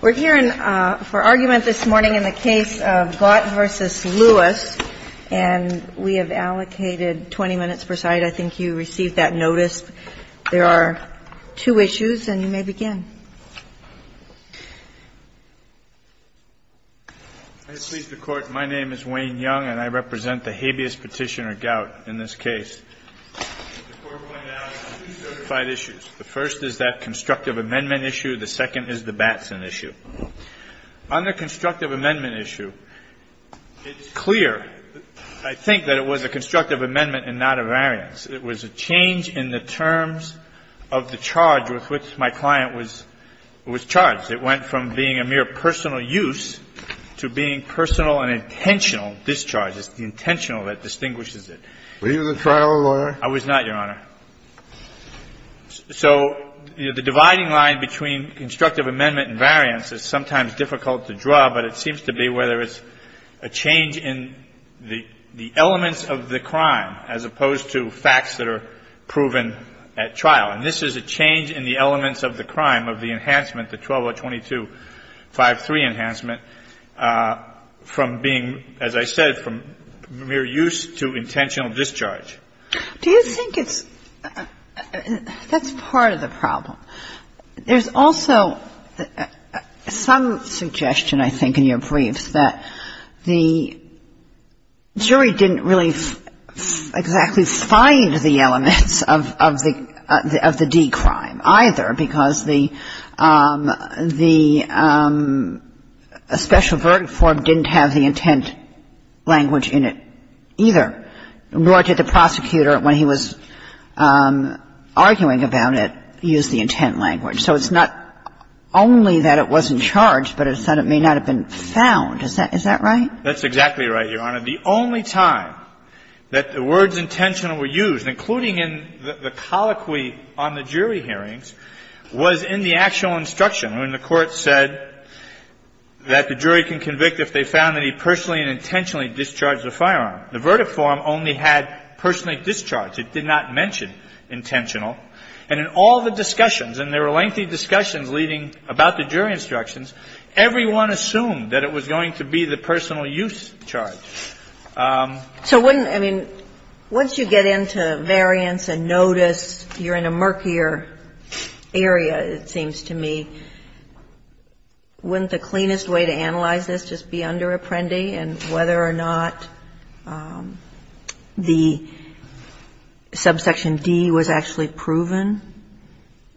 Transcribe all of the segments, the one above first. We're here for argument this morning in the case of Gautt v. Lewis, and we have allocated 20 minutes per side. I think you received that notice. There are two issues, and you may begin. I beseech the Court. My name is Wayne Young, and I represent the habeas petitioner, Gautt, in this case. The Court will now have two certified issues. The first is that constructive amendment issue. The second is the Batson issue. On the constructive amendment issue, it's clear, I think, that it was a constructive amendment and not a variance. It was a change in the terms of the charge with which my client was charged. It went from being a mere personal use to being personal and intentional discharge. It's the intentional that distinguishes it. Were you the trial lawyer? I was not, Your Honor. So the dividing line between constructive amendment and variance is sometimes difficult to draw, but it seems to be whether it's a change in the elements of the crime as opposed to facts that are proven at trial. And this is a change in the elements of the crime, of the enhancement, the 12022-53 enhancement, from being, as I said, from mere use to intentional discharge. Do you think it's – that's part of the problem. There's also some suggestion, I think, in your briefs that the jury didn't really exactly find the elements of the D crime either because the special verdict form didn't have the intent language in it either. Nor did the prosecutor, when he was arguing about it, use the intent language. So it's not only that it wasn't charged, but it may not have been found. Is that right? That's exactly right, Your Honor. The only time that the words intentional were used, including in the colloquy on the jury hearings, was in the actual instruction when the court said that the jury can convict if they found that he personally and intentionally discharged the firearm. The verdict form only had personally discharged. It did not mention intentional. And in all the discussions, and there were lengthy discussions leading about the jury instructions, everyone assumed that it was going to be the personal use charge. So wouldn't – I mean, once you get into variance and notice, you're in a murkier area, it seems to me. Wouldn't the cleanest way to analyze this just be under Apprendi and whether or not the subsection D was actually proven?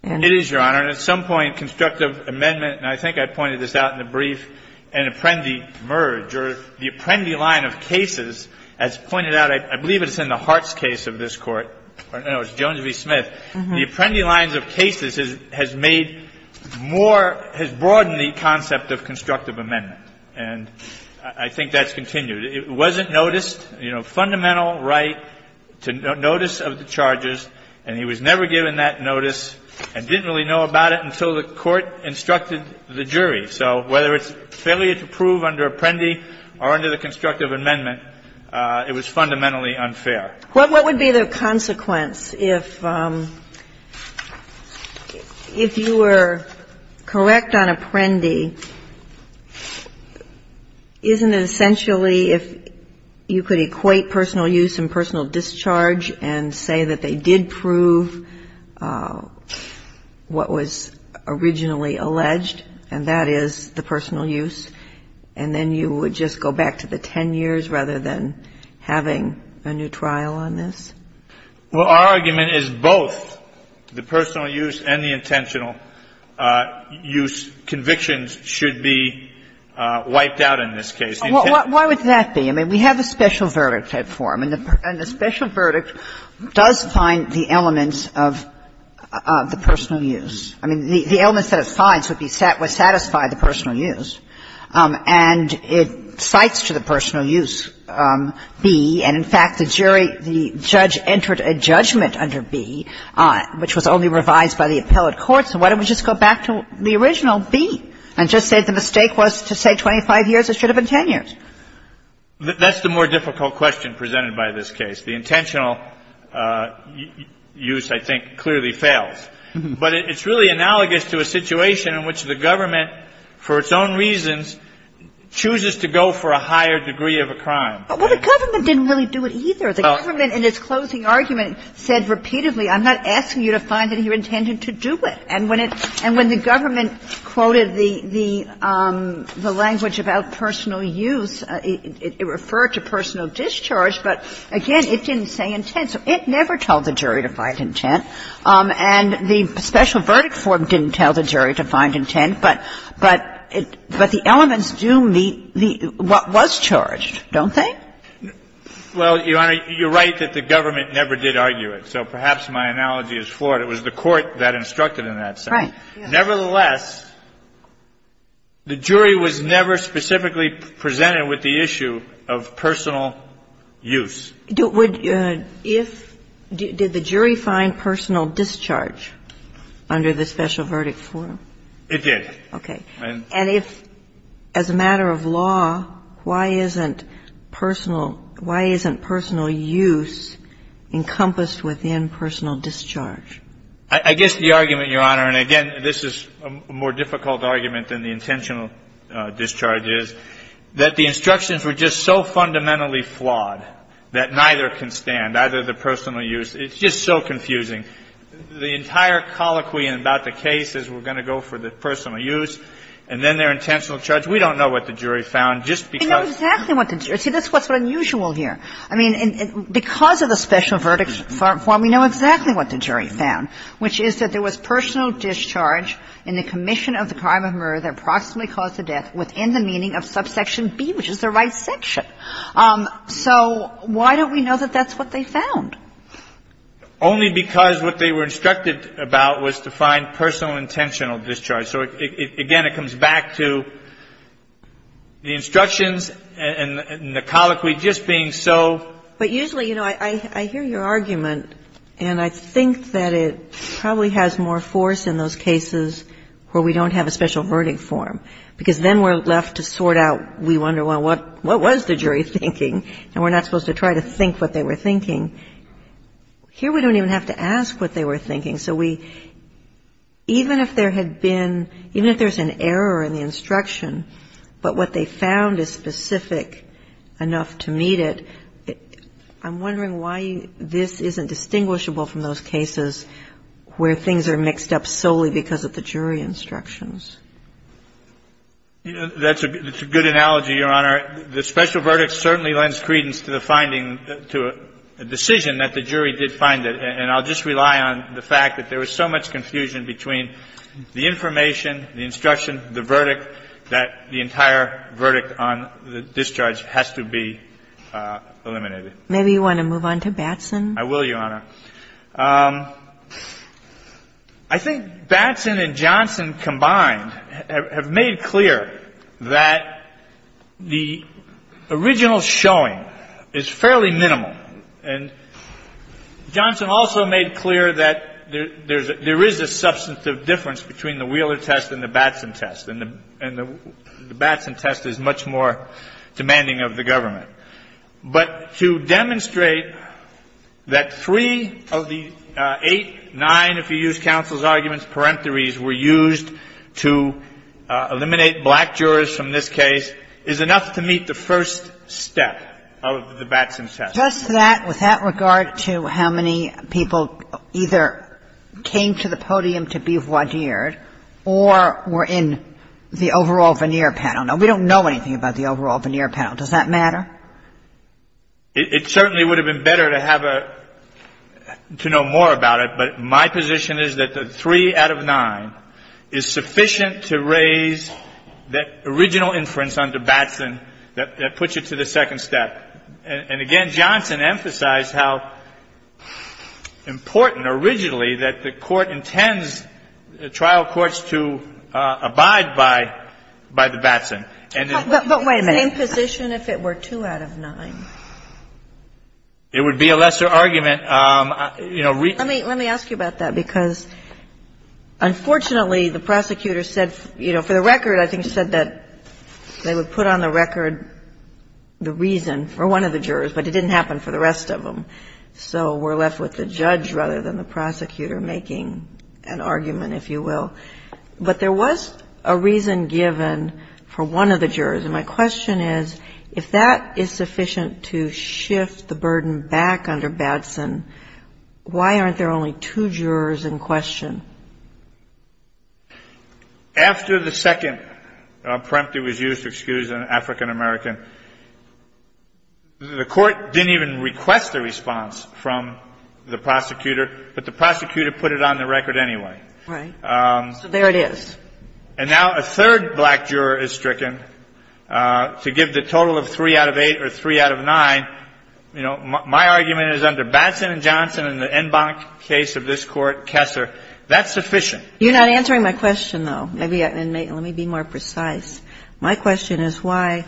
It is, Your Honor. And at some point, constructive amendment, and I think I pointed this out in the brief, an Apprendi merge or the Apprendi line of cases, as pointed out, I believe it's in the of cases has made more – has broadened the concept of constructive amendment. And I think that's continued. It wasn't noticed. You know, fundamental right to notice of the charges, and he was never given that notice and didn't really know about it until the court instructed the jury. So whether it's failure to prove under Apprendi or under the constructive amendment, it was fundamentally unfair. What would be the consequence if you were correct on Apprendi? Isn't it essentially if you could equate personal use and personal discharge and say that they did prove what was originally alleged, and that is the personal use, and then you would just go back to the 10 years rather than having a new trial on this? Well, our argument is both the personal use and the intentional use convictions should be wiped out in this case. Why would that be? I mean, we have a special verdict at 4. I mean, the special verdict does find the elements of the personal use. I mean, the elements that it finds would satisfy the personal use. And it cites to the personal use B, and, in fact, the jury, the judge entered a judgment under B which was only revised by the appellate courts. So why don't we just go back to the original B and just say the mistake was to say 25 years. It should have been 10 years. That's the more difficult question presented by this case. The intentional use, I think, clearly fails. But it's really analogous to a situation in which the government, for its own reasons, chooses to go for a higher degree of a crime. Well, the government didn't really do it either. The government, in its closing argument, said repeatedly, I'm not asking you to find that you intended to do it. And when it – and when the government quoted the language about personal use, it referred to personal discharge. But, again, it didn't say intent. So it never told the jury to find intent. And the special verdict form didn't tell the jury to find intent, but the elements do meet what was charged, don't they? Well, Your Honor, you're right that the government never did argue it. So perhaps my analogy is flawed. It was the court that instructed in that sense. Right. Nevertheless, the jury was never specifically presented with the issue of personal use. Did the jury find personal discharge under the special verdict form? It did. Okay. And if, as a matter of law, why isn't personal – why isn't personal use encompassed within personal discharge? I guess the argument, Your Honor, and, again, this is a more difficult argument than the intentional discharge is, that the instructions were just so fundamentally flawed that neither can stand, either the personal use. It's just so confusing. The entire colloquy about the case is we're going to go for the personal use and then their intentional discharge. We don't know what the jury found just because – We know exactly what the jury – see, that's what's unusual here. I mean, because of the special verdict form, we know exactly what the jury found, which is that there was personal discharge in the commission of the crime of murder that approximately caused the death within the meaning of subsection B, which is the dissection. So why don't we know that that's what they found? Only because what they were instructed about was to find personal intentional discharge. So, again, it comes back to the instructions and the colloquy just being so – But usually, you know, I hear your argument, and I think that it probably has more force in those cases where we don't have a special verdict form, because then we're supposed to try to think what they were thinking. Here we don't even have to ask what they were thinking. So we – even if there had been – even if there's an error in the instruction, but what they found is specific enough to meet it, I'm wondering why this isn't distinguishable from those cases where things are mixed up solely because of the jury instructions. That's a good analogy, Your Honor. The special verdict certainly lends credence to the finding, to a decision that the jury did find it. And I'll just rely on the fact that there was so much confusion between the information, the instruction, the verdict, that the entire verdict on the discharge has to be eliminated. Maybe you want to move on to Batson? I will, Your Honor. I think Batson and Johnson combined have made clear that the original showing is fairly minimal. And Johnson also made clear that there is a substantive difference between the Wheeler test and the Batson test, and the Batson test is much more demanding of the government. But to demonstrate that three of the eight, nine, if you use counsel's arguments, peremptories were used to eliminate black jurors from this case is enough to meet the first step of the Batson test. Just that, with that regard to how many people either came to the podium to be voir dired or were in the overall veneer panel. Now, we don't know anything about the overall veneer panel. Does that matter? It certainly would have been better to have a – to know more about it, but my position is that the three out of nine is sufficient to raise that original inference under Batson that puts you to the second step. And again, Johnson emphasized how important originally that the Court intends trial courts to abide by the Batson. And the – Kagan. But wait a minute. The same position if it were two out of nine? It would be a lesser argument. You know, re- Let me ask you about that, because unfortunately, the prosecutor said, you know, for the record, I think, she said that they would put on the record the reason for one of the jurors, but it didn't happen for the rest of them. So we're left with the judge rather than the prosecutor making an argument, if you will. But there was a reason given for one of the jurors. And my question is, if that is sufficient to shift the burden back under Batson, why aren't there only two jurors in question? After the second preemptive was used, excuse me, African American, the court didn't even request a response from the prosecutor, but the prosecutor put it on the record anyway. Right. So there it is. And now a third black juror is stricken. To give the total of three out of eight or three out of nine, you know, my argument is under Batson and Johnson and the en banc case of this Court, Kessler. That's sufficient. You're not answering my question, though. Maybe – and let me be more precise. My question is why,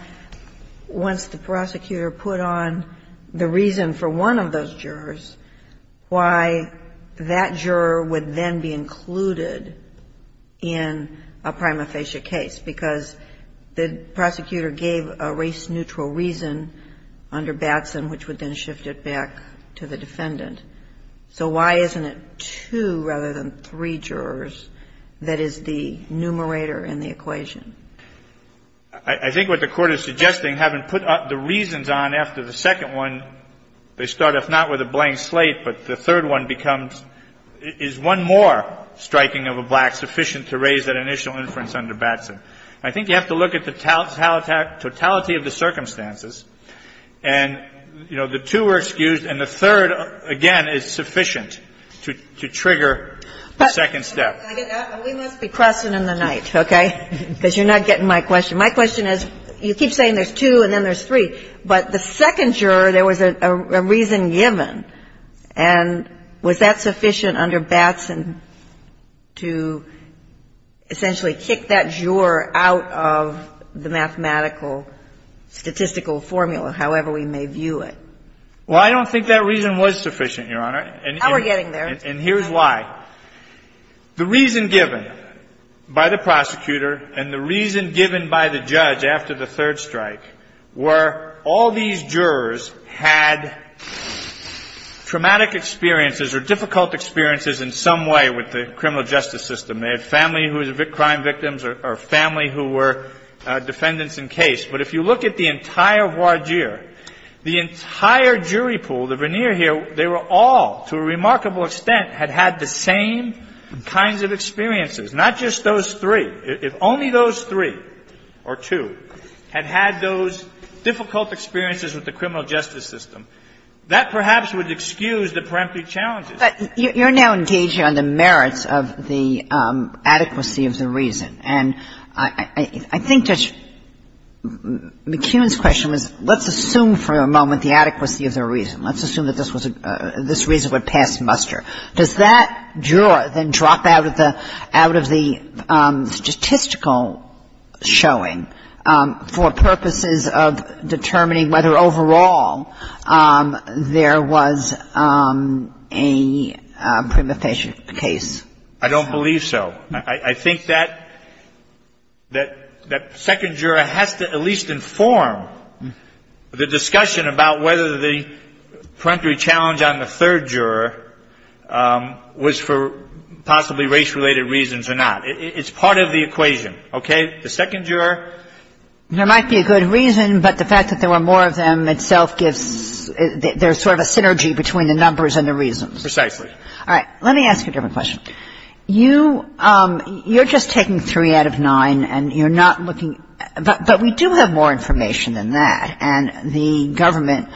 once the prosecutor put on the reason for one of those jurors, why that juror would then be included in a prima facie case? Because the prosecutor gave a race-neutral reason under Batson which would then shift it back to the defendant. So why isn't it two rather than three jurors that is the numerator in the equation? I think what the Court is suggesting, having put the reasons on after the second one, they start, if not with a blank slate, but the third one becomes, is one more striking of a black sufficient to raise that initial inference under Batson. I think you have to look at the totality of the circumstances. And, you know, the two were excused, and the third, again, is sufficient to trigger the second step. We must be crossing in the night, okay, because you're not getting my question. My question is, you keep saying there's two and then there's three, but the second juror, there was a reason given, and was that sufficient under Batson to essentially kick that juror out of the mathematical statistical formula, however we may view it? Well, I don't think that reason was sufficient, Your Honor. Now we're getting there. And here's why. The reason given by the prosecutor and the reason given by the judge after the third strike were all these jurors had traumatic experiences or difficult experiences in some way with the criminal justice system. They had family who were crime victims or family who were defendants in case. But if you look at the entire voir dire, the entire jury pool, the veneer here, they were all, to a remarkable extent, had had the same kinds of experiences. Not just those three. If only those three or two had had those difficult experiences with the criminal justice system, that perhaps would excuse the peremptory challenges. But you're now engaging on the merits of the adequacy of the reason. And I think Judge McKeon's question was let's assume for a moment the adequacy of the reason. Let's assume that this was a – this reason would pass muster. Does that juror then drop out of the – out of the statistical showing for purposes of determining whether overall there was a preemptation case? I don't believe so. I think that second juror has to at least inform the discussion about whether the peremptory challenge on the third juror was for possibly race-related reasons or not. It's part of the equation. Okay? The second juror? There might be a good reason, but the fact that there were more of them itself gives – there's sort of a synergy between the numbers and the reasons. Precisely. All right. Let me ask you a different question. You – you're just taking three out of nine, and you're not looking – but we do have more information than that. And the government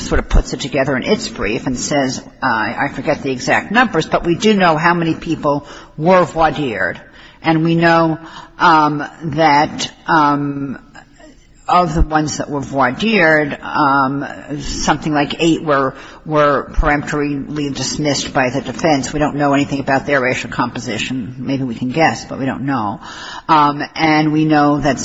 sort of puts it together in its brief and says, I forget the exact numbers, but we do know how many people were voir dired, and we know that of the ones that were voir dired, something like eight were – were preemptorily dismissed by the defense. We don't know anything about their racial composition. Maybe we can guess, but we don't know. And we know that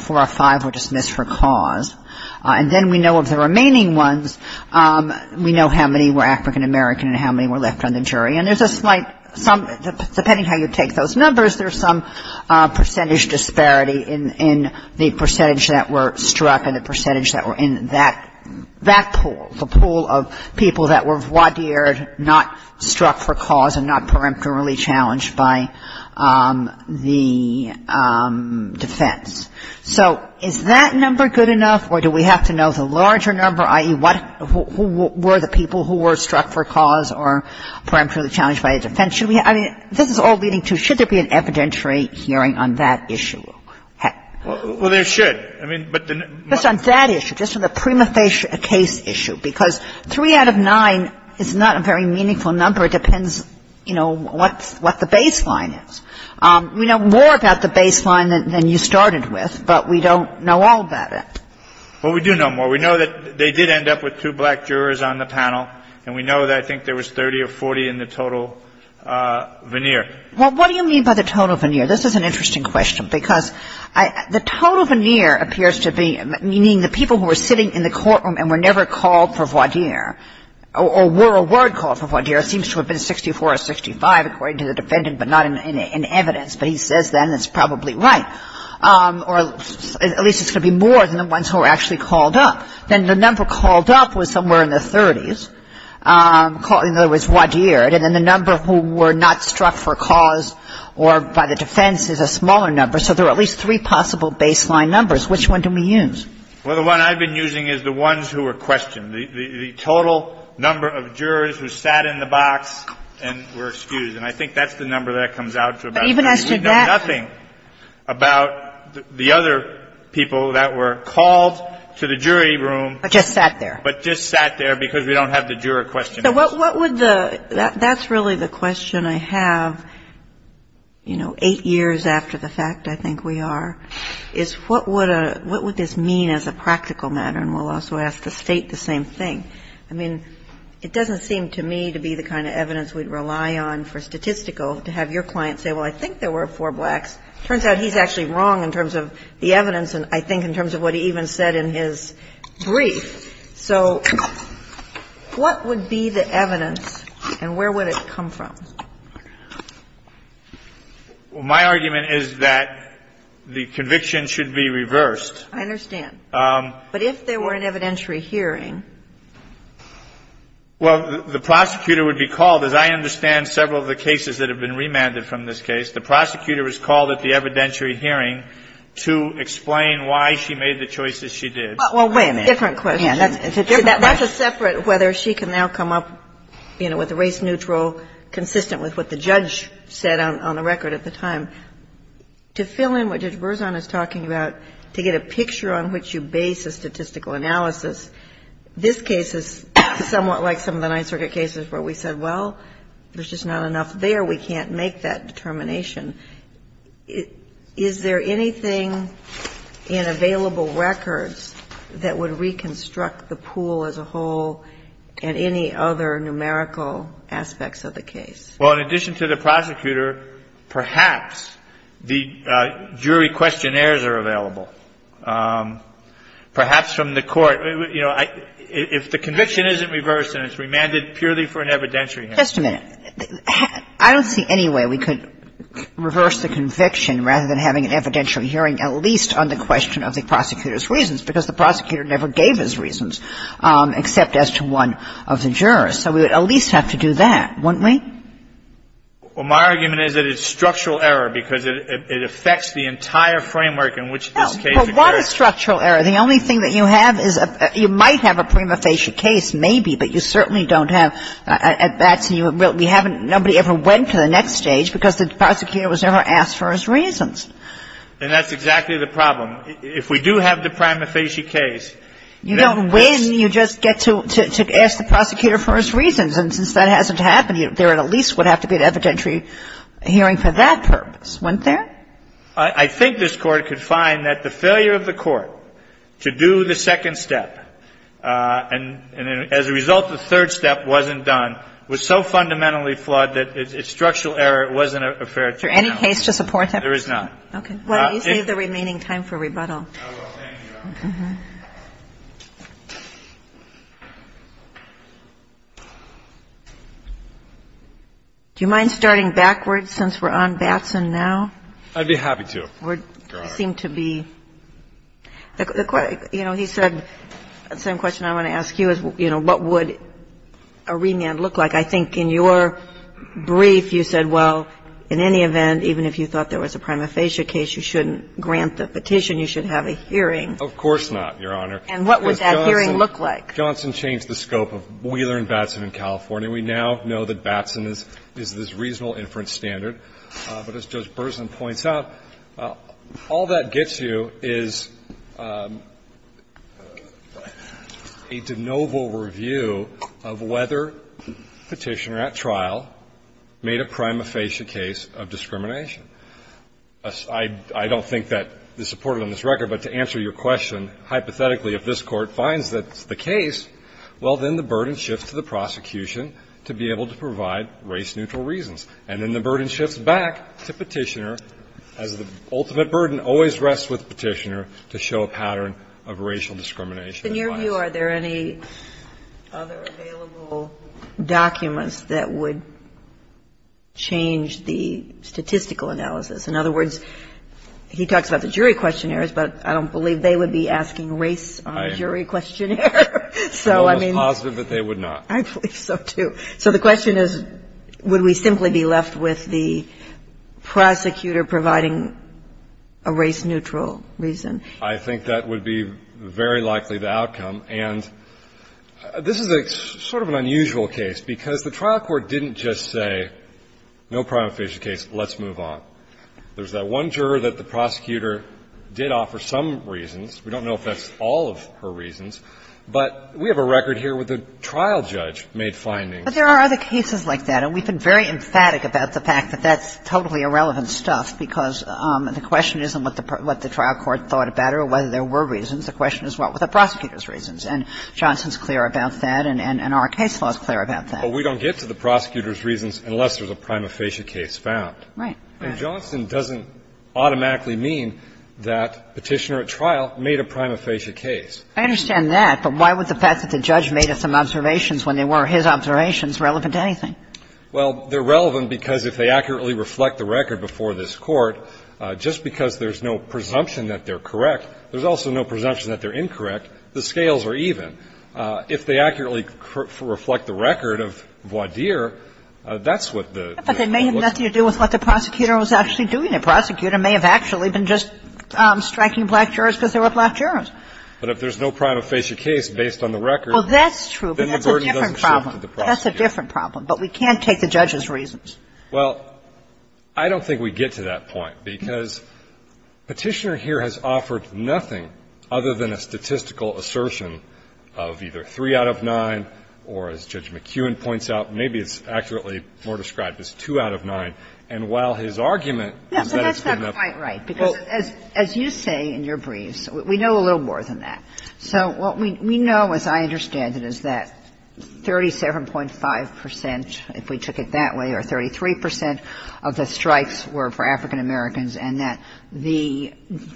four or five were dismissed for cause. And then we know of the remaining ones, we know how many were African American and how many were left on the jury. And there's a slight – some – depending how you take those numbers, there's some percentage disparity in the percentage that were struck and the percentage that were in that – that pool, the pool of people that were voir dired, not struck for cause, and not preemptorily challenged by the defense. So is that number good enough, or do we have to know the larger number, i.e., what – who were the people who were struck for cause or preemptorily challenged by the defense? I mean, this is all leading to, should there be an evidentiary hearing on that issue? Heck. Well, there should. Just on that issue, just on the prima facie case issue, because three out of nine is not a very meaningful number. It depends, you know, what the baseline is. We know more about the baseline than you started with, but we don't know all about it. Well, we do know more. We know that they did end up with two black jurors on the panel, and we know that I think there was 30 or 40 in the total veneer. Well, what do you mean by the total veneer? This is an interesting question, because the total veneer appears to be meaning the people who were sitting in the courtroom and were never called for voir dire or were a word called for voir dire seems to have been 64 or 65, according to the defendant, but not in evidence. But he says then it's probably right, or at least it's going to be more than the ones who were actually called up. Then the number called up was somewhere in the 30s, in other words, voir dire, and the number who were not struck for cause or by the defense is a smaller number. So there are at least three possible baseline numbers. Which one do we use? Well, the one I've been using is the ones who were questioned. The total number of jurors who sat in the box and were excused. And I think that's the number that comes out to about that. We know nothing about the other people that were called to the jury room. But just sat there. But just sat there, because we don't have the juror questionnaires. So what would the – that's really the question I have, you know, eight years after the fact, I think we are, is what would this mean as a practical matter? And we'll also ask the State the same thing. I mean, it doesn't seem to me to be the kind of evidence we'd rely on for statistical to have your client say, well, I think there were four blacks. It turns out he's actually wrong in terms of the evidence and I think in terms of what he even said in his brief. So what would be the evidence and where would it come from? Well, my argument is that the conviction should be reversed. I understand. But if there were an evidentiary hearing? Well, the prosecutor would be called, as I understand several of the cases that have been remanded from this case, the prosecutor is called at the evidentiary hearing to explain why she made the choices she did. Well, wait a minute. That's a different question. It's a different question. That's a separate whether she can now come up, you know, with a race-neutral, consistent with what the judge said on the record at the time. To fill in what Judge Berzon is talking about, to get a picture on which you base a statistical analysis, this case is somewhat like some of the Ninth Circuit cases where we said, well, there's just not enough there. We can't make that determination. Is there anything in available records that would reconstruct the pool as a whole and any other numerical aspects of the case? Well, in addition to the prosecutor, perhaps the jury questionnaires are available. Perhaps from the court. You know, if the conviction isn't reversed and it's remanded purely for an evidentiary hearing. Just a minute. I don't see any way we could reverse the conviction rather than having an evidentiary hearing, at least on the question of the prosecutor's reasons, because the prosecutor never gave his reasons except as to one of the jurors. So we would at least have to do that, wouldn't we? Well, my argument is that it's structural error because it affects the entire framework in which this case occurs. Well, what is structural error? The only thing that you have is you might have a prima facie case, maybe, but you certainly don't have at bats and nobody ever went to the next stage because the prosecutor was never asked for his reasons. And that's exactly the problem. If we do have the prima facie case. You don't win. You just get to ask the prosecutor for his reasons. And since that hasn't happened yet, there at least would have to be an evidentiary hearing for that purpose, wouldn't there? I think this Court could find that the failure of the Court to do the second step and, as a result, the third step wasn't done, was so fundamentally flawed that it's structural error. It wasn't a fair trial. Is there any case to support that? There is not. Okay. Why don't you save the remaining time for rebuttal? I will. Thank you, Your Honor. Do you mind starting backwards since we're on Batson now? I'd be happy to. I think we're going back to the question of the question of the remand case. We're getting to that point where it seemed to be the question. You know, he said, the same question I want to ask you is, you know, what would a remand look like? I think in your brief you said, well, in any event, even if you thought there was a prima facie case, you shouldn't grant the petition, you should have a hearing. Of course not, Your Honor. And what would that hearing look like? Johnson changed the scope of Wheeler and Batson in California. We now know that Batson is this reasonable inference standard. But as Judge Burson points out, all that gets you is a de novo review of whether the petitioner at trial made a prima facie case of discrimination. I don't think that is supported on this record, but to answer your question, hypothetically, if this Court finds that it's the case, well, then the burden shifts to the prosecution to be able to provide race-neutral reasons. And then the burden shifts back to Petitioner, as the ultimate burden always rests with Petitioner, to show a pattern of racial discrimination and bias. Are there any other available documents that would change the statistical analysis? In other words, he talks about the jury questionnaires, but I don't believe they would be asking race on jury questionnaire. So, I mean the question is, would we simply be left with the prosecutor providing a race-neutral reason? I think that would be very likely the outcome. And this is sort of an unusual case, because the trial court didn't just say no prima facie case, let's move on. There's that one juror that the prosecutor did offer some reasons. We don't know if that's all of her reasons. But we have a record here where the trial judge made findings. But there are other cases like that, and we've been very emphatic about the fact that that's totally irrelevant stuff, because the question isn't what the trial court thought about it or whether there were reasons. The question is what were the prosecutor's reasons. And Johnson's clear about that, and our case law is clear about that. But we don't get to the prosecutor's reasons unless there's a prima facie case found. Right. And Johnson doesn't automatically mean that Petitioner at trial made a prima facie case. I understand that. But why would the fact that the judge made some observations when they were his observations relevant to anything? Well, they're relevant because if they accurately reflect the record before this Court, just because there's no presumption that they're correct, there's also no presumption that they're incorrect, the scales are even. But they may have nothing to do with what the prosecutor was actually doing. The prosecutor may have actually been just striking black jurors because there were black jurors. But if there's no prima facie case based on the record, then the burden doesn't shift to the prosecutor. Well, that's true, but that's a different problem. But we can't take the judge's reasons. Well, I don't think we get to that point, because Petitioner here has offered nothing other than a statistical assertion of either 3 out of 9 or, as Judge McEwen points out, maybe it's accurately more described as 2 out of 9. And while his argument is that it's good enough. Yeah, but that's not quite right, because as you say in your briefs, we know a little more than that. So what we know, as I understand it, is that 37.5 percent, if we took it that way, or 33 percent of the strikes were for African-Americans, and that the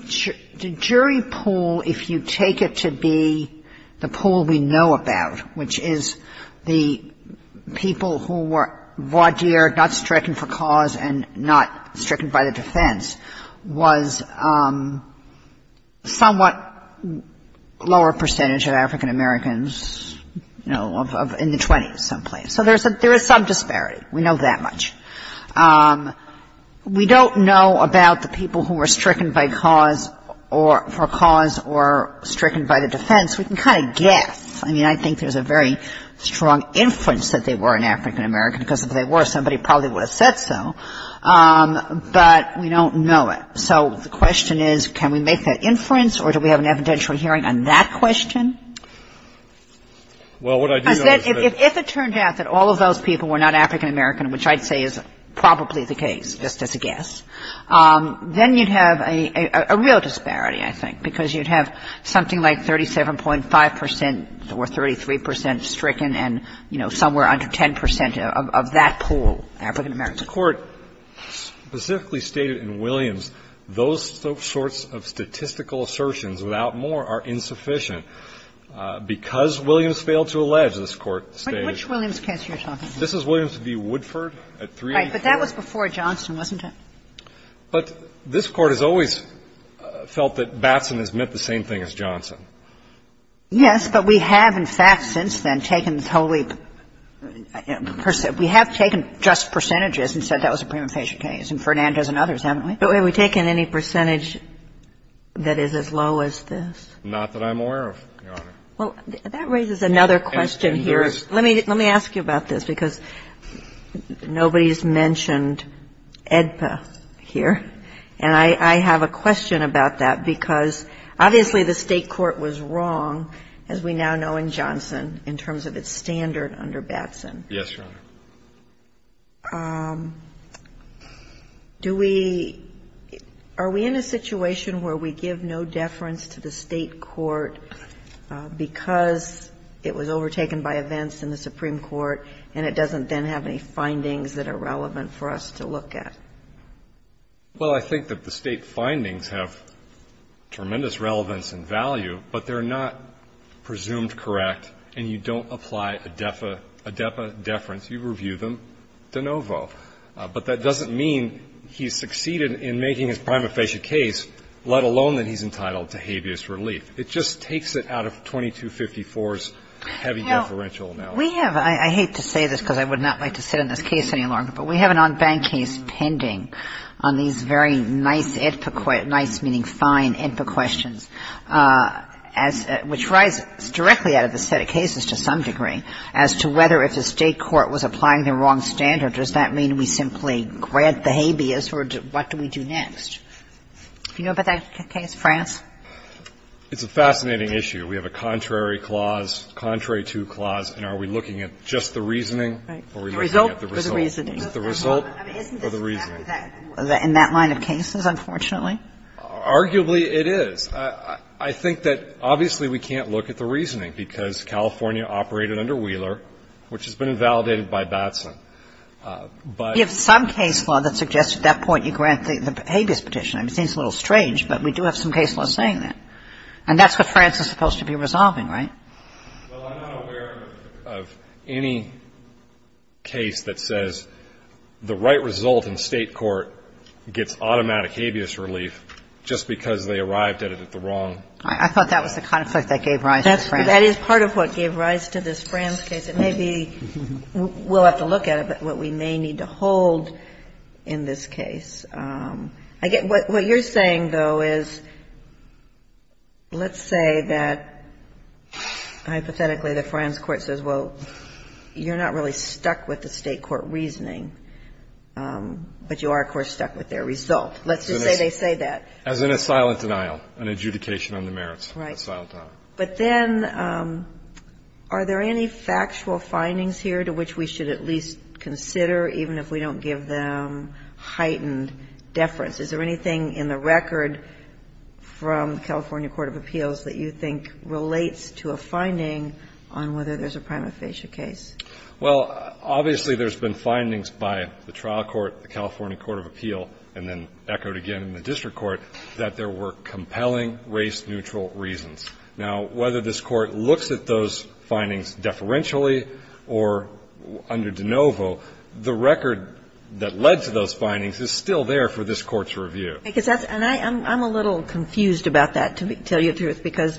jury pool, if you take it to be the pool we know about, which is the people who were voir dire, not stricken for cause and not stricken by the defense, was somewhat lower percentage of African-Americans, you know, in the 20s someplace. So there is some disparity. We know that much. We don't know about the people who were stricken by cause or for cause or stricken by the defense. We can kind of guess. I mean, I think there's a very strong inference that they were an African-American, because if they were, somebody probably would have said so. But we don't know it. So the question is, can we make that inference, or do we have an evidential hearing on that question? I said, if it turned out that all of those people were not African-American, which I'd say is probably the case, just as a guess, then you'd have a real disparity, I think, because you'd have something like 37.5 percent or 33 percent stricken and, you know, somewhere under 10 percent of that pool African-American. The Court specifically stated in Williams those sorts of statistical assertions without more are insufficient. Because Williams failed to allege, this Court stated. Which Williams case are you talking about? This is Williams v. Woodford at 384. Right. But that was before Johnson, wasn't it? But this Court has always felt that Batson has meant the same thing as Johnson. Yes, but we have, in fact, since then, taken totally percent. We have taken just percentages and said that was a prima facie case. And Fernandez and others, haven't we? But have we taken any percentage that is as low as this? Not that I'm aware of, Your Honor. Well, that raises another question here. Let me ask you about this, because nobody's mentioned AEDPA here. And I have a question about that, because obviously the State court was wrong, as we now know in Johnson, in terms of its standard under Batson. Yes, Your Honor. Do we – are we in a situation where we give no deference to the State court because it was overtaken by events in the Supreme Court, and it doesn't then have any findings that are relevant for us to look at? Well, I think that the State findings have tremendous relevance and value, but they're not presumed correct, and you don't apply AEDPA deference. You review them de novo. But that doesn't mean he succeeded in making his prima facie case, let alone that he's entitled to habeas relief. It just takes it out of 2254's heavy deferential analysis. Now, we have – I hate to say this, because I would not like to sit on this case any longer, but we have an en banc case pending on these very nice AEDPA – nice meaning fine AEDPA questions, as – which rise directly out of the set of cases to some degree, as to whether if the State court was applying the wrong standard, does that mean we simply grant the habeas, or what do we do next? Do you know about that case, France? It's a fascinating issue. We have a contrary clause, contrary to clause, and are we looking at just the reasoning, or are we looking at the result? The result or the reasoning. The result or the reasoning. Isn't this exactly that in that line of cases, unfortunately? Arguably, it is. I think that obviously we can't look at the reasoning, because California operated under Wheeler, which has been invalidated by Batson. But we have some case law that suggests at that point you grant the habeas petition. I mean, it seems a little strange, but we do have some case law saying that. And that's what France is supposed to be resolving, right? Well, I'm not aware of any case that says the right result in State court gets automatic habeas relief just because they arrived at it at the wrong time. I thought that was the conflict that gave rise to France. That is part of what gave rise to this France case. It may be we'll have to look at it, but what we may need to hold in this case. I get what you're saying, though, is let's say that hypothetically the France court says, well, you're not really stuck with the State court reasoning, but you are, of course, stuck with their result. Let's just say they say that. As in a silent denial, an adjudication on the merits. Right. A silent denial. But then are there any factual findings here to which we should at least consider, even if we don't give them heightened deference? Is there anything in the record from the California Court of Appeals that you think relates to a finding on whether there's a prima facie case? Well, obviously there's been findings by the trial court, the California Court of Appeal, and then echoed again in the district court, that there were compelling race-neutral reasons. Now, whether this Court looks at those findings deferentially or under de novo, the record that led to those findings is still there for this Court's review. Because that's – and I'm a little confused about that, to tell you the truth, because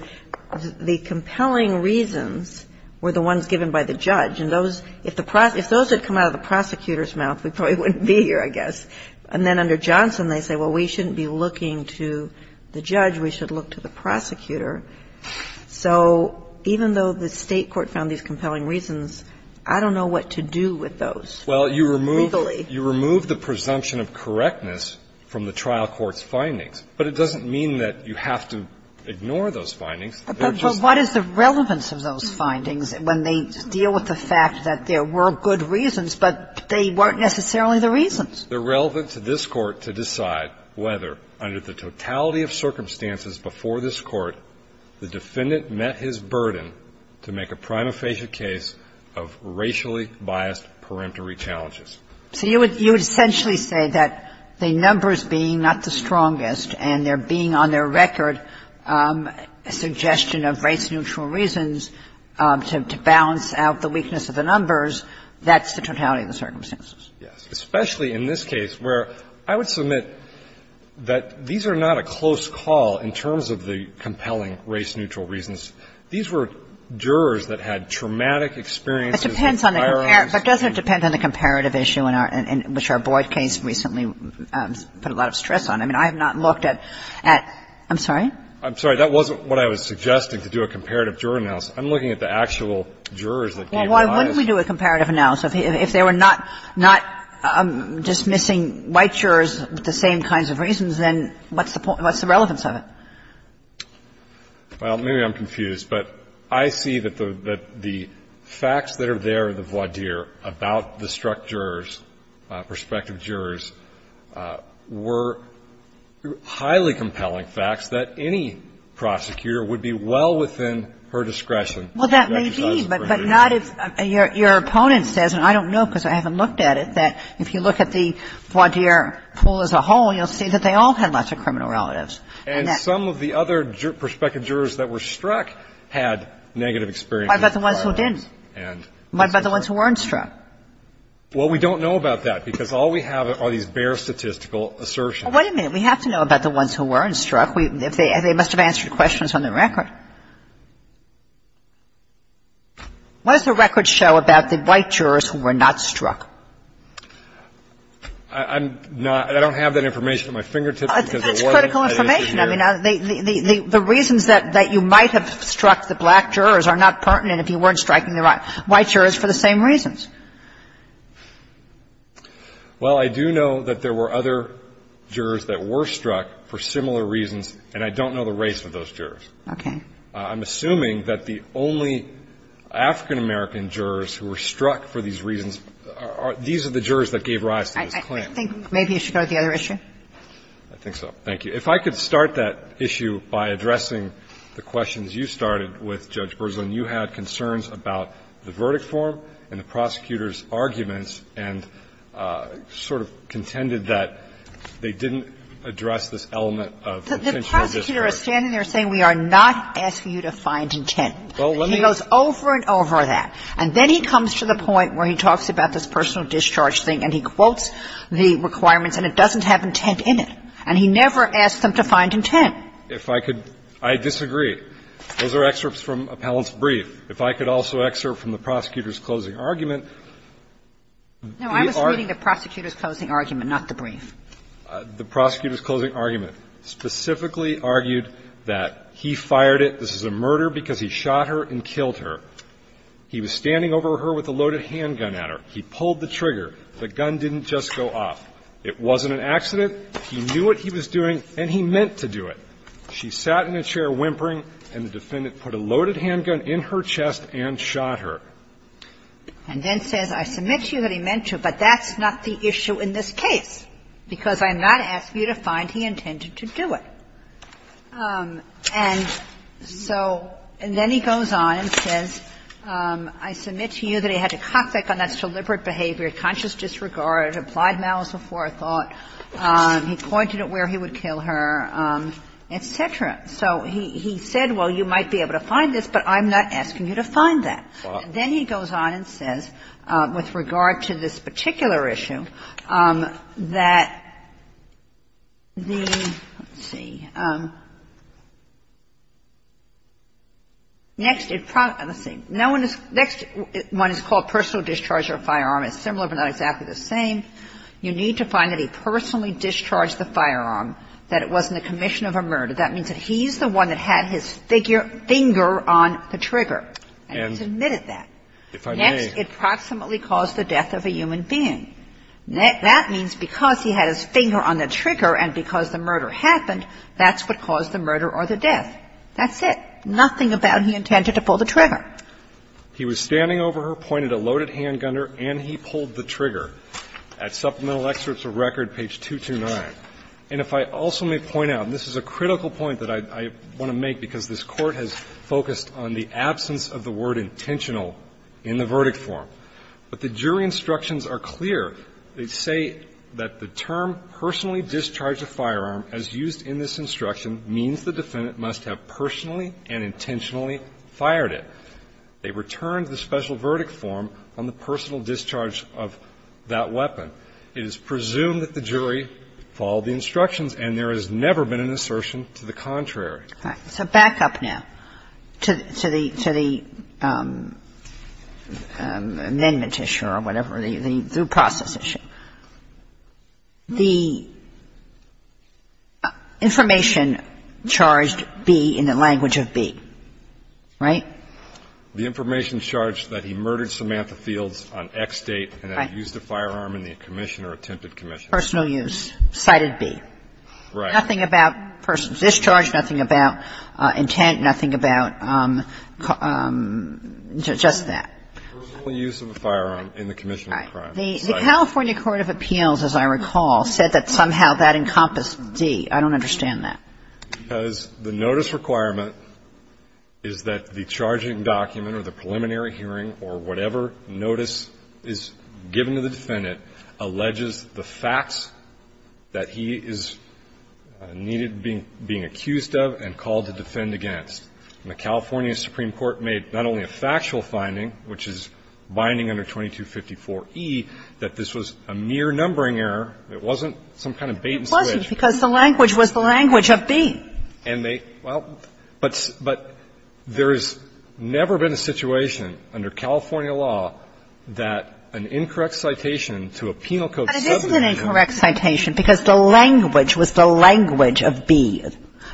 the compelling reasons were the ones given by the judge. And those – if those had come out of the prosecutor's mouth, we probably wouldn't be here, I guess. And then under Johnson, they say, well, we shouldn't be looking to the judge. We should look to the prosecutor. So even though the State court found these compelling reasons, I don't know what to do with those. Well, you remove the presumption of correctness from the trial court's findings. But it doesn't mean that you have to ignore those findings. They're just – But what is the relevance of those findings when they deal with the fact that there were good reasons, but they weren't necessarily the reasons? They're relevant to this Court to decide whether, under the totality of circumstances before this Court, the defendant met his burden to make a prima facie case of racially biased parenteral challenges. So you would essentially say that the numbers being not the strongest and there being on their record a suggestion of race-neutral reasons to balance out the weakness of the numbers, that's the totality of the circumstances? Yes. Especially in this case where I would submit that these are not a close call in terms of the compelling race-neutral reasons. These were jurors that had traumatic experiences. It depends on the – but doesn't it depend on the comparative issue in our – which our Boyd case recently put a lot of stress on? I mean, I have not looked at – I'm sorry? I'm sorry. That wasn't what I was suggesting, to do a comparative juror analysis. I'm looking at the actual jurors that gave the lies. Well, why wouldn't we do a comparative analysis? If they were not dismissing white jurors with the same kinds of reasons, then what's the relevance of it? Well, maybe I'm confused, but I see that the facts that are there in the voir dire about the struck jurors, prospective jurors, were highly compelling facts that any prosecutor would be well within her discretion to exercise her jurisdiction. Well, that may be, but not if your opponent says, and I don't know because I haven't looked at it, that if you look at the voir dire pool as a whole, you'll see that they all had lots of criminal relatives. And some of the other prospective jurors that were struck had negative experiences in the voir dire. What about the ones who didn't? What about the ones who weren't struck? Well, we don't know about that, because all we have are these bare statistical assertions. Well, wait a minute. We have to know about the ones who weren't struck. They must have answered questions on the record. What does the record show about the white jurors who were not struck? I'm not – I don't have that information at my fingertips, because it wasn't at the jury. It's critical information. I mean, the reasons that you might have struck the black jurors are not pertinent if you weren't striking the white jurors for the same reasons. Well, I do know that there were other jurors that were struck for similar reasons, and I don't know the race of those jurors. Okay. I'm assuming that the only African-American jurors who were struck for these reasons are – these are the jurors that gave rise to this claim. I think maybe you should go to the other issue. I think so. Thank you. If I could start that issue by addressing the questions you started with Judge Berzlin. You had concerns about the verdict form and the prosecutor's arguments and sort of contended that they didn't address this element of intentional disregard. The prosecutor is standing there saying we are not asking you to find intent. Well, let me – He goes over and over that. And then he comes to the point where he talks about this personal discharge thing and he quotes the requirements and it doesn't have intent in it. And he never asked them to find intent. If I could – I disagree. Those are excerpts from Appellant's brief. If I could also excerpt from the prosecutor's closing argument, the – No. I was reading the prosecutor's closing argument, not the brief. The prosecutor's closing argument specifically argued that he fired it. This is a murder because he shot her and killed her. He was standing over her with a loaded handgun at her. He pulled the trigger. The gun didn't just go off. It wasn't an accident. He knew what he was doing and he meant to do it. She sat in a chair whimpering and the defendant put a loaded handgun in her chest and shot her. And then says I submit to you that he meant to, but that's not the issue in this case because I'm not asking you to find he intended to do it. And so – and then he goes on and says, I submit to you that he had to cockpick on that's deliberate behavior, conscious disregard, applied malice before I thought. He pointed at where he would kill her, et cetera. So he said, well, you might be able to find this, but I'm not asking you to find that. And then he goes on and says, with regard to this particular issue, that the – let's see. Next, it – let's see. No one is – next one is called personal discharge of a firearm. It's similar but not exactly the same. You need to find that he personally discharged the firearm, that it wasn't a commission of a murder. That means that he's the one that had his finger on the trigger. And he's admitted that. Next, it proximately caused the death of a human being. That means because he had his finger on the trigger and because the murder happened, that's what caused the murder or the death. That's it. Nothing about he intended to pull the trigger. He was standing over her, pointed a loaded handgunner, and he pulled the trigger. At Supplemental Excerpts of Record, page 229. And if I also may point out, and this is a critical point that I want to make because this Court has focused on the absence of the word intentional in the verdict form, but the jury instructions are clear. They say that the term personally discharged a firearm as used in this instruction means the defendant must have personally and intentionally fired it. They returned the special verdict form on the personal discharge of that weapon. It is presumed that the jury followed the instructions and there has never been an assertion to the contrary. So back up now to the amendment issue or whatever, the due process issue. The information charged B in the language of B, right? The information charged that he murdered Samantha Fields on X date and that he used a firearm in the commission or attempted commission. Personal use, cited B. Right. Nothing about personal discharge, nothing about intent, nothing about just that. Personal use of a firearm in the commission of a crime. The California Court of Appeals, as I recall, said that somehow that encompassed D. I don't understand that. Because the notice requirement is that the charging document or the preliminary hearing or whatever notice is given to the defendant alleges the facts that he is needed being accused of and called to defend against. And the California Supreme Court made not only a factual finding, which is binding under 2254e, that this was a mere numbering error. It wasn't some kind of bait and switch. It wasn't, because the language was the language of B. And they, well, but there has never been a situation under California law that an incorrect citation to a penal code subject to the law. But it isn't an incorrect citation, because the language was the language of B.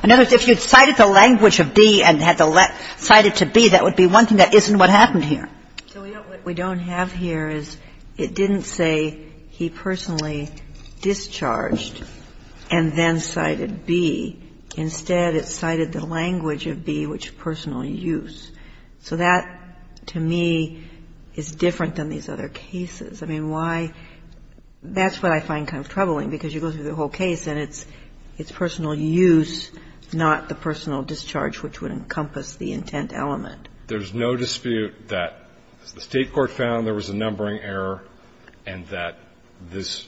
In other words, if you cited the language of B and had to cite it to B, that would be one thing that isn't what happened here. So what we don't have here is it didn't say he personally discharged and then cited B. Instead, it cited the language of B, which is personal use. So that, to me, is different than these other cases. I mean, why? That's what I find kind of troubling, because you go through the whole case and it's personal use, not the personal discharge, which would encompass the intent element. There's no dispute that the State court found there was a numbering error and that this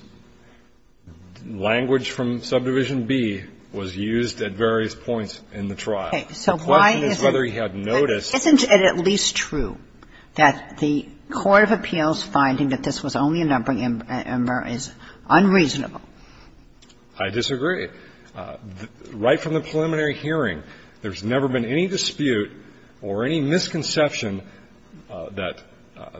language from subdivision B was used at various points in the trial. Okay. So why isn't it at least true that the court of appeals finding that this was a numbering error is unreasonable? I disagree. Right from the preliminary hearing, there's never been any dispute or any misconception that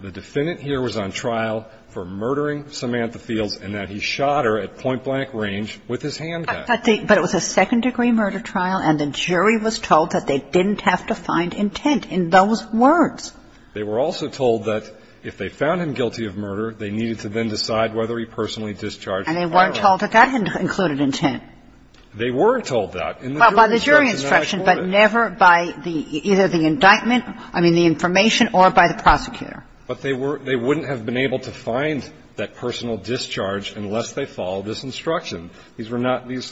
the defendant here was on trial for murdering Samantha Fields and that he shot her at point-blank range with his handgun. But it was a second-degree murder trial, and the jury was told that they didn't have to find intent in those words. They were also told that if they found him guilty of murder, they needed to then decide whether he personally discharged. And they weren't told that that included intent. They weren't told that. Well, by the jury instruction, but never by either the indictment, I mean, the information, or by the prosecutor. But they wouldn't have been able to find that personal discharge unless they followed this instruction. These were not these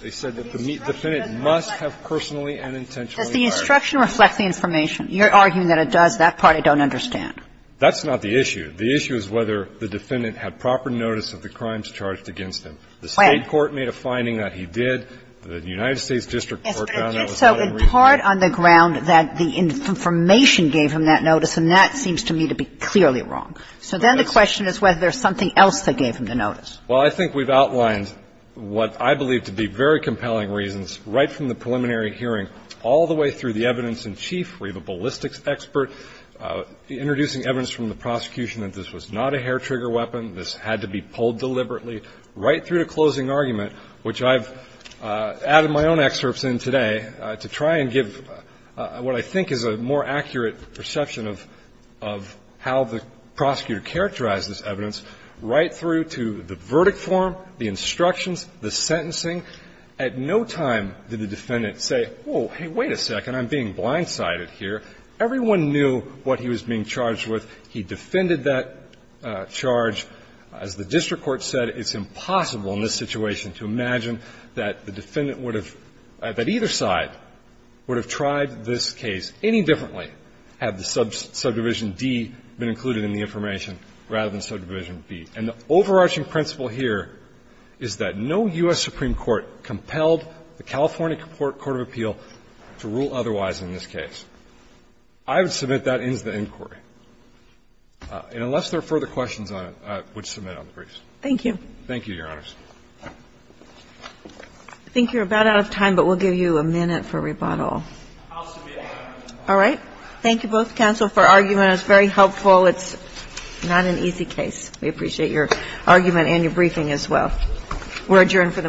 they said that the defendant must have personally and intentionally fired. Does the instruction reflect the information? You're arguing that it does. That part I don't understand. That's not the issue. The issue is whether the defendant had proper notice of the crimes charged against him. The State court made a finding that he did. The United States district court found that was not unreasonable. Yes, but I think so in part on the ground that the information gave him that notice, and that seems to me to be clearly wrong. So then the question is whether there's something else that gave him the notice. Well, I think we've outlined what I believe to be very compelling reasons right from the preliminary hearing all the way through the evidence in chief, where you have a ballistics expert introducing evidence from the prosecution that this was not a hair-trigger weapon, this had to be pulled deliberately, right through to closing argument, which I've added my own excerpts in today to try and give what I think is a more accurate perception of how the prosecutor characterized this evidence, right through to the verdict form, the instructions, the sentencing. At no time did the defendant say, oh, hey, wait a second, I'm being blindsided here. Everyone knew what he was being charged with. He defended that charge. As the district court said, it's impossible in this situation to imagine that the defendant would have – that either side would have tried this case any differently had the subdivision D been included in the information rather than subdivision B. And the overarching principle here is that no U.S. Supreme Court compelled the California Court of Appeal to rule otherwise in this case. I would submit that ends the inquiry. And unless there are further questions on it, I would submit on the briefs. Thank you. Thank you, Your Honors. I think you're about out of time, but we'll give you a minute for rebuttal. I'll submit. All right. Thank you both, counsel, for arguing. It was very helpful. It's not an easy case. We appreciate your argument and your briefing as well. We're adjourned for the morning.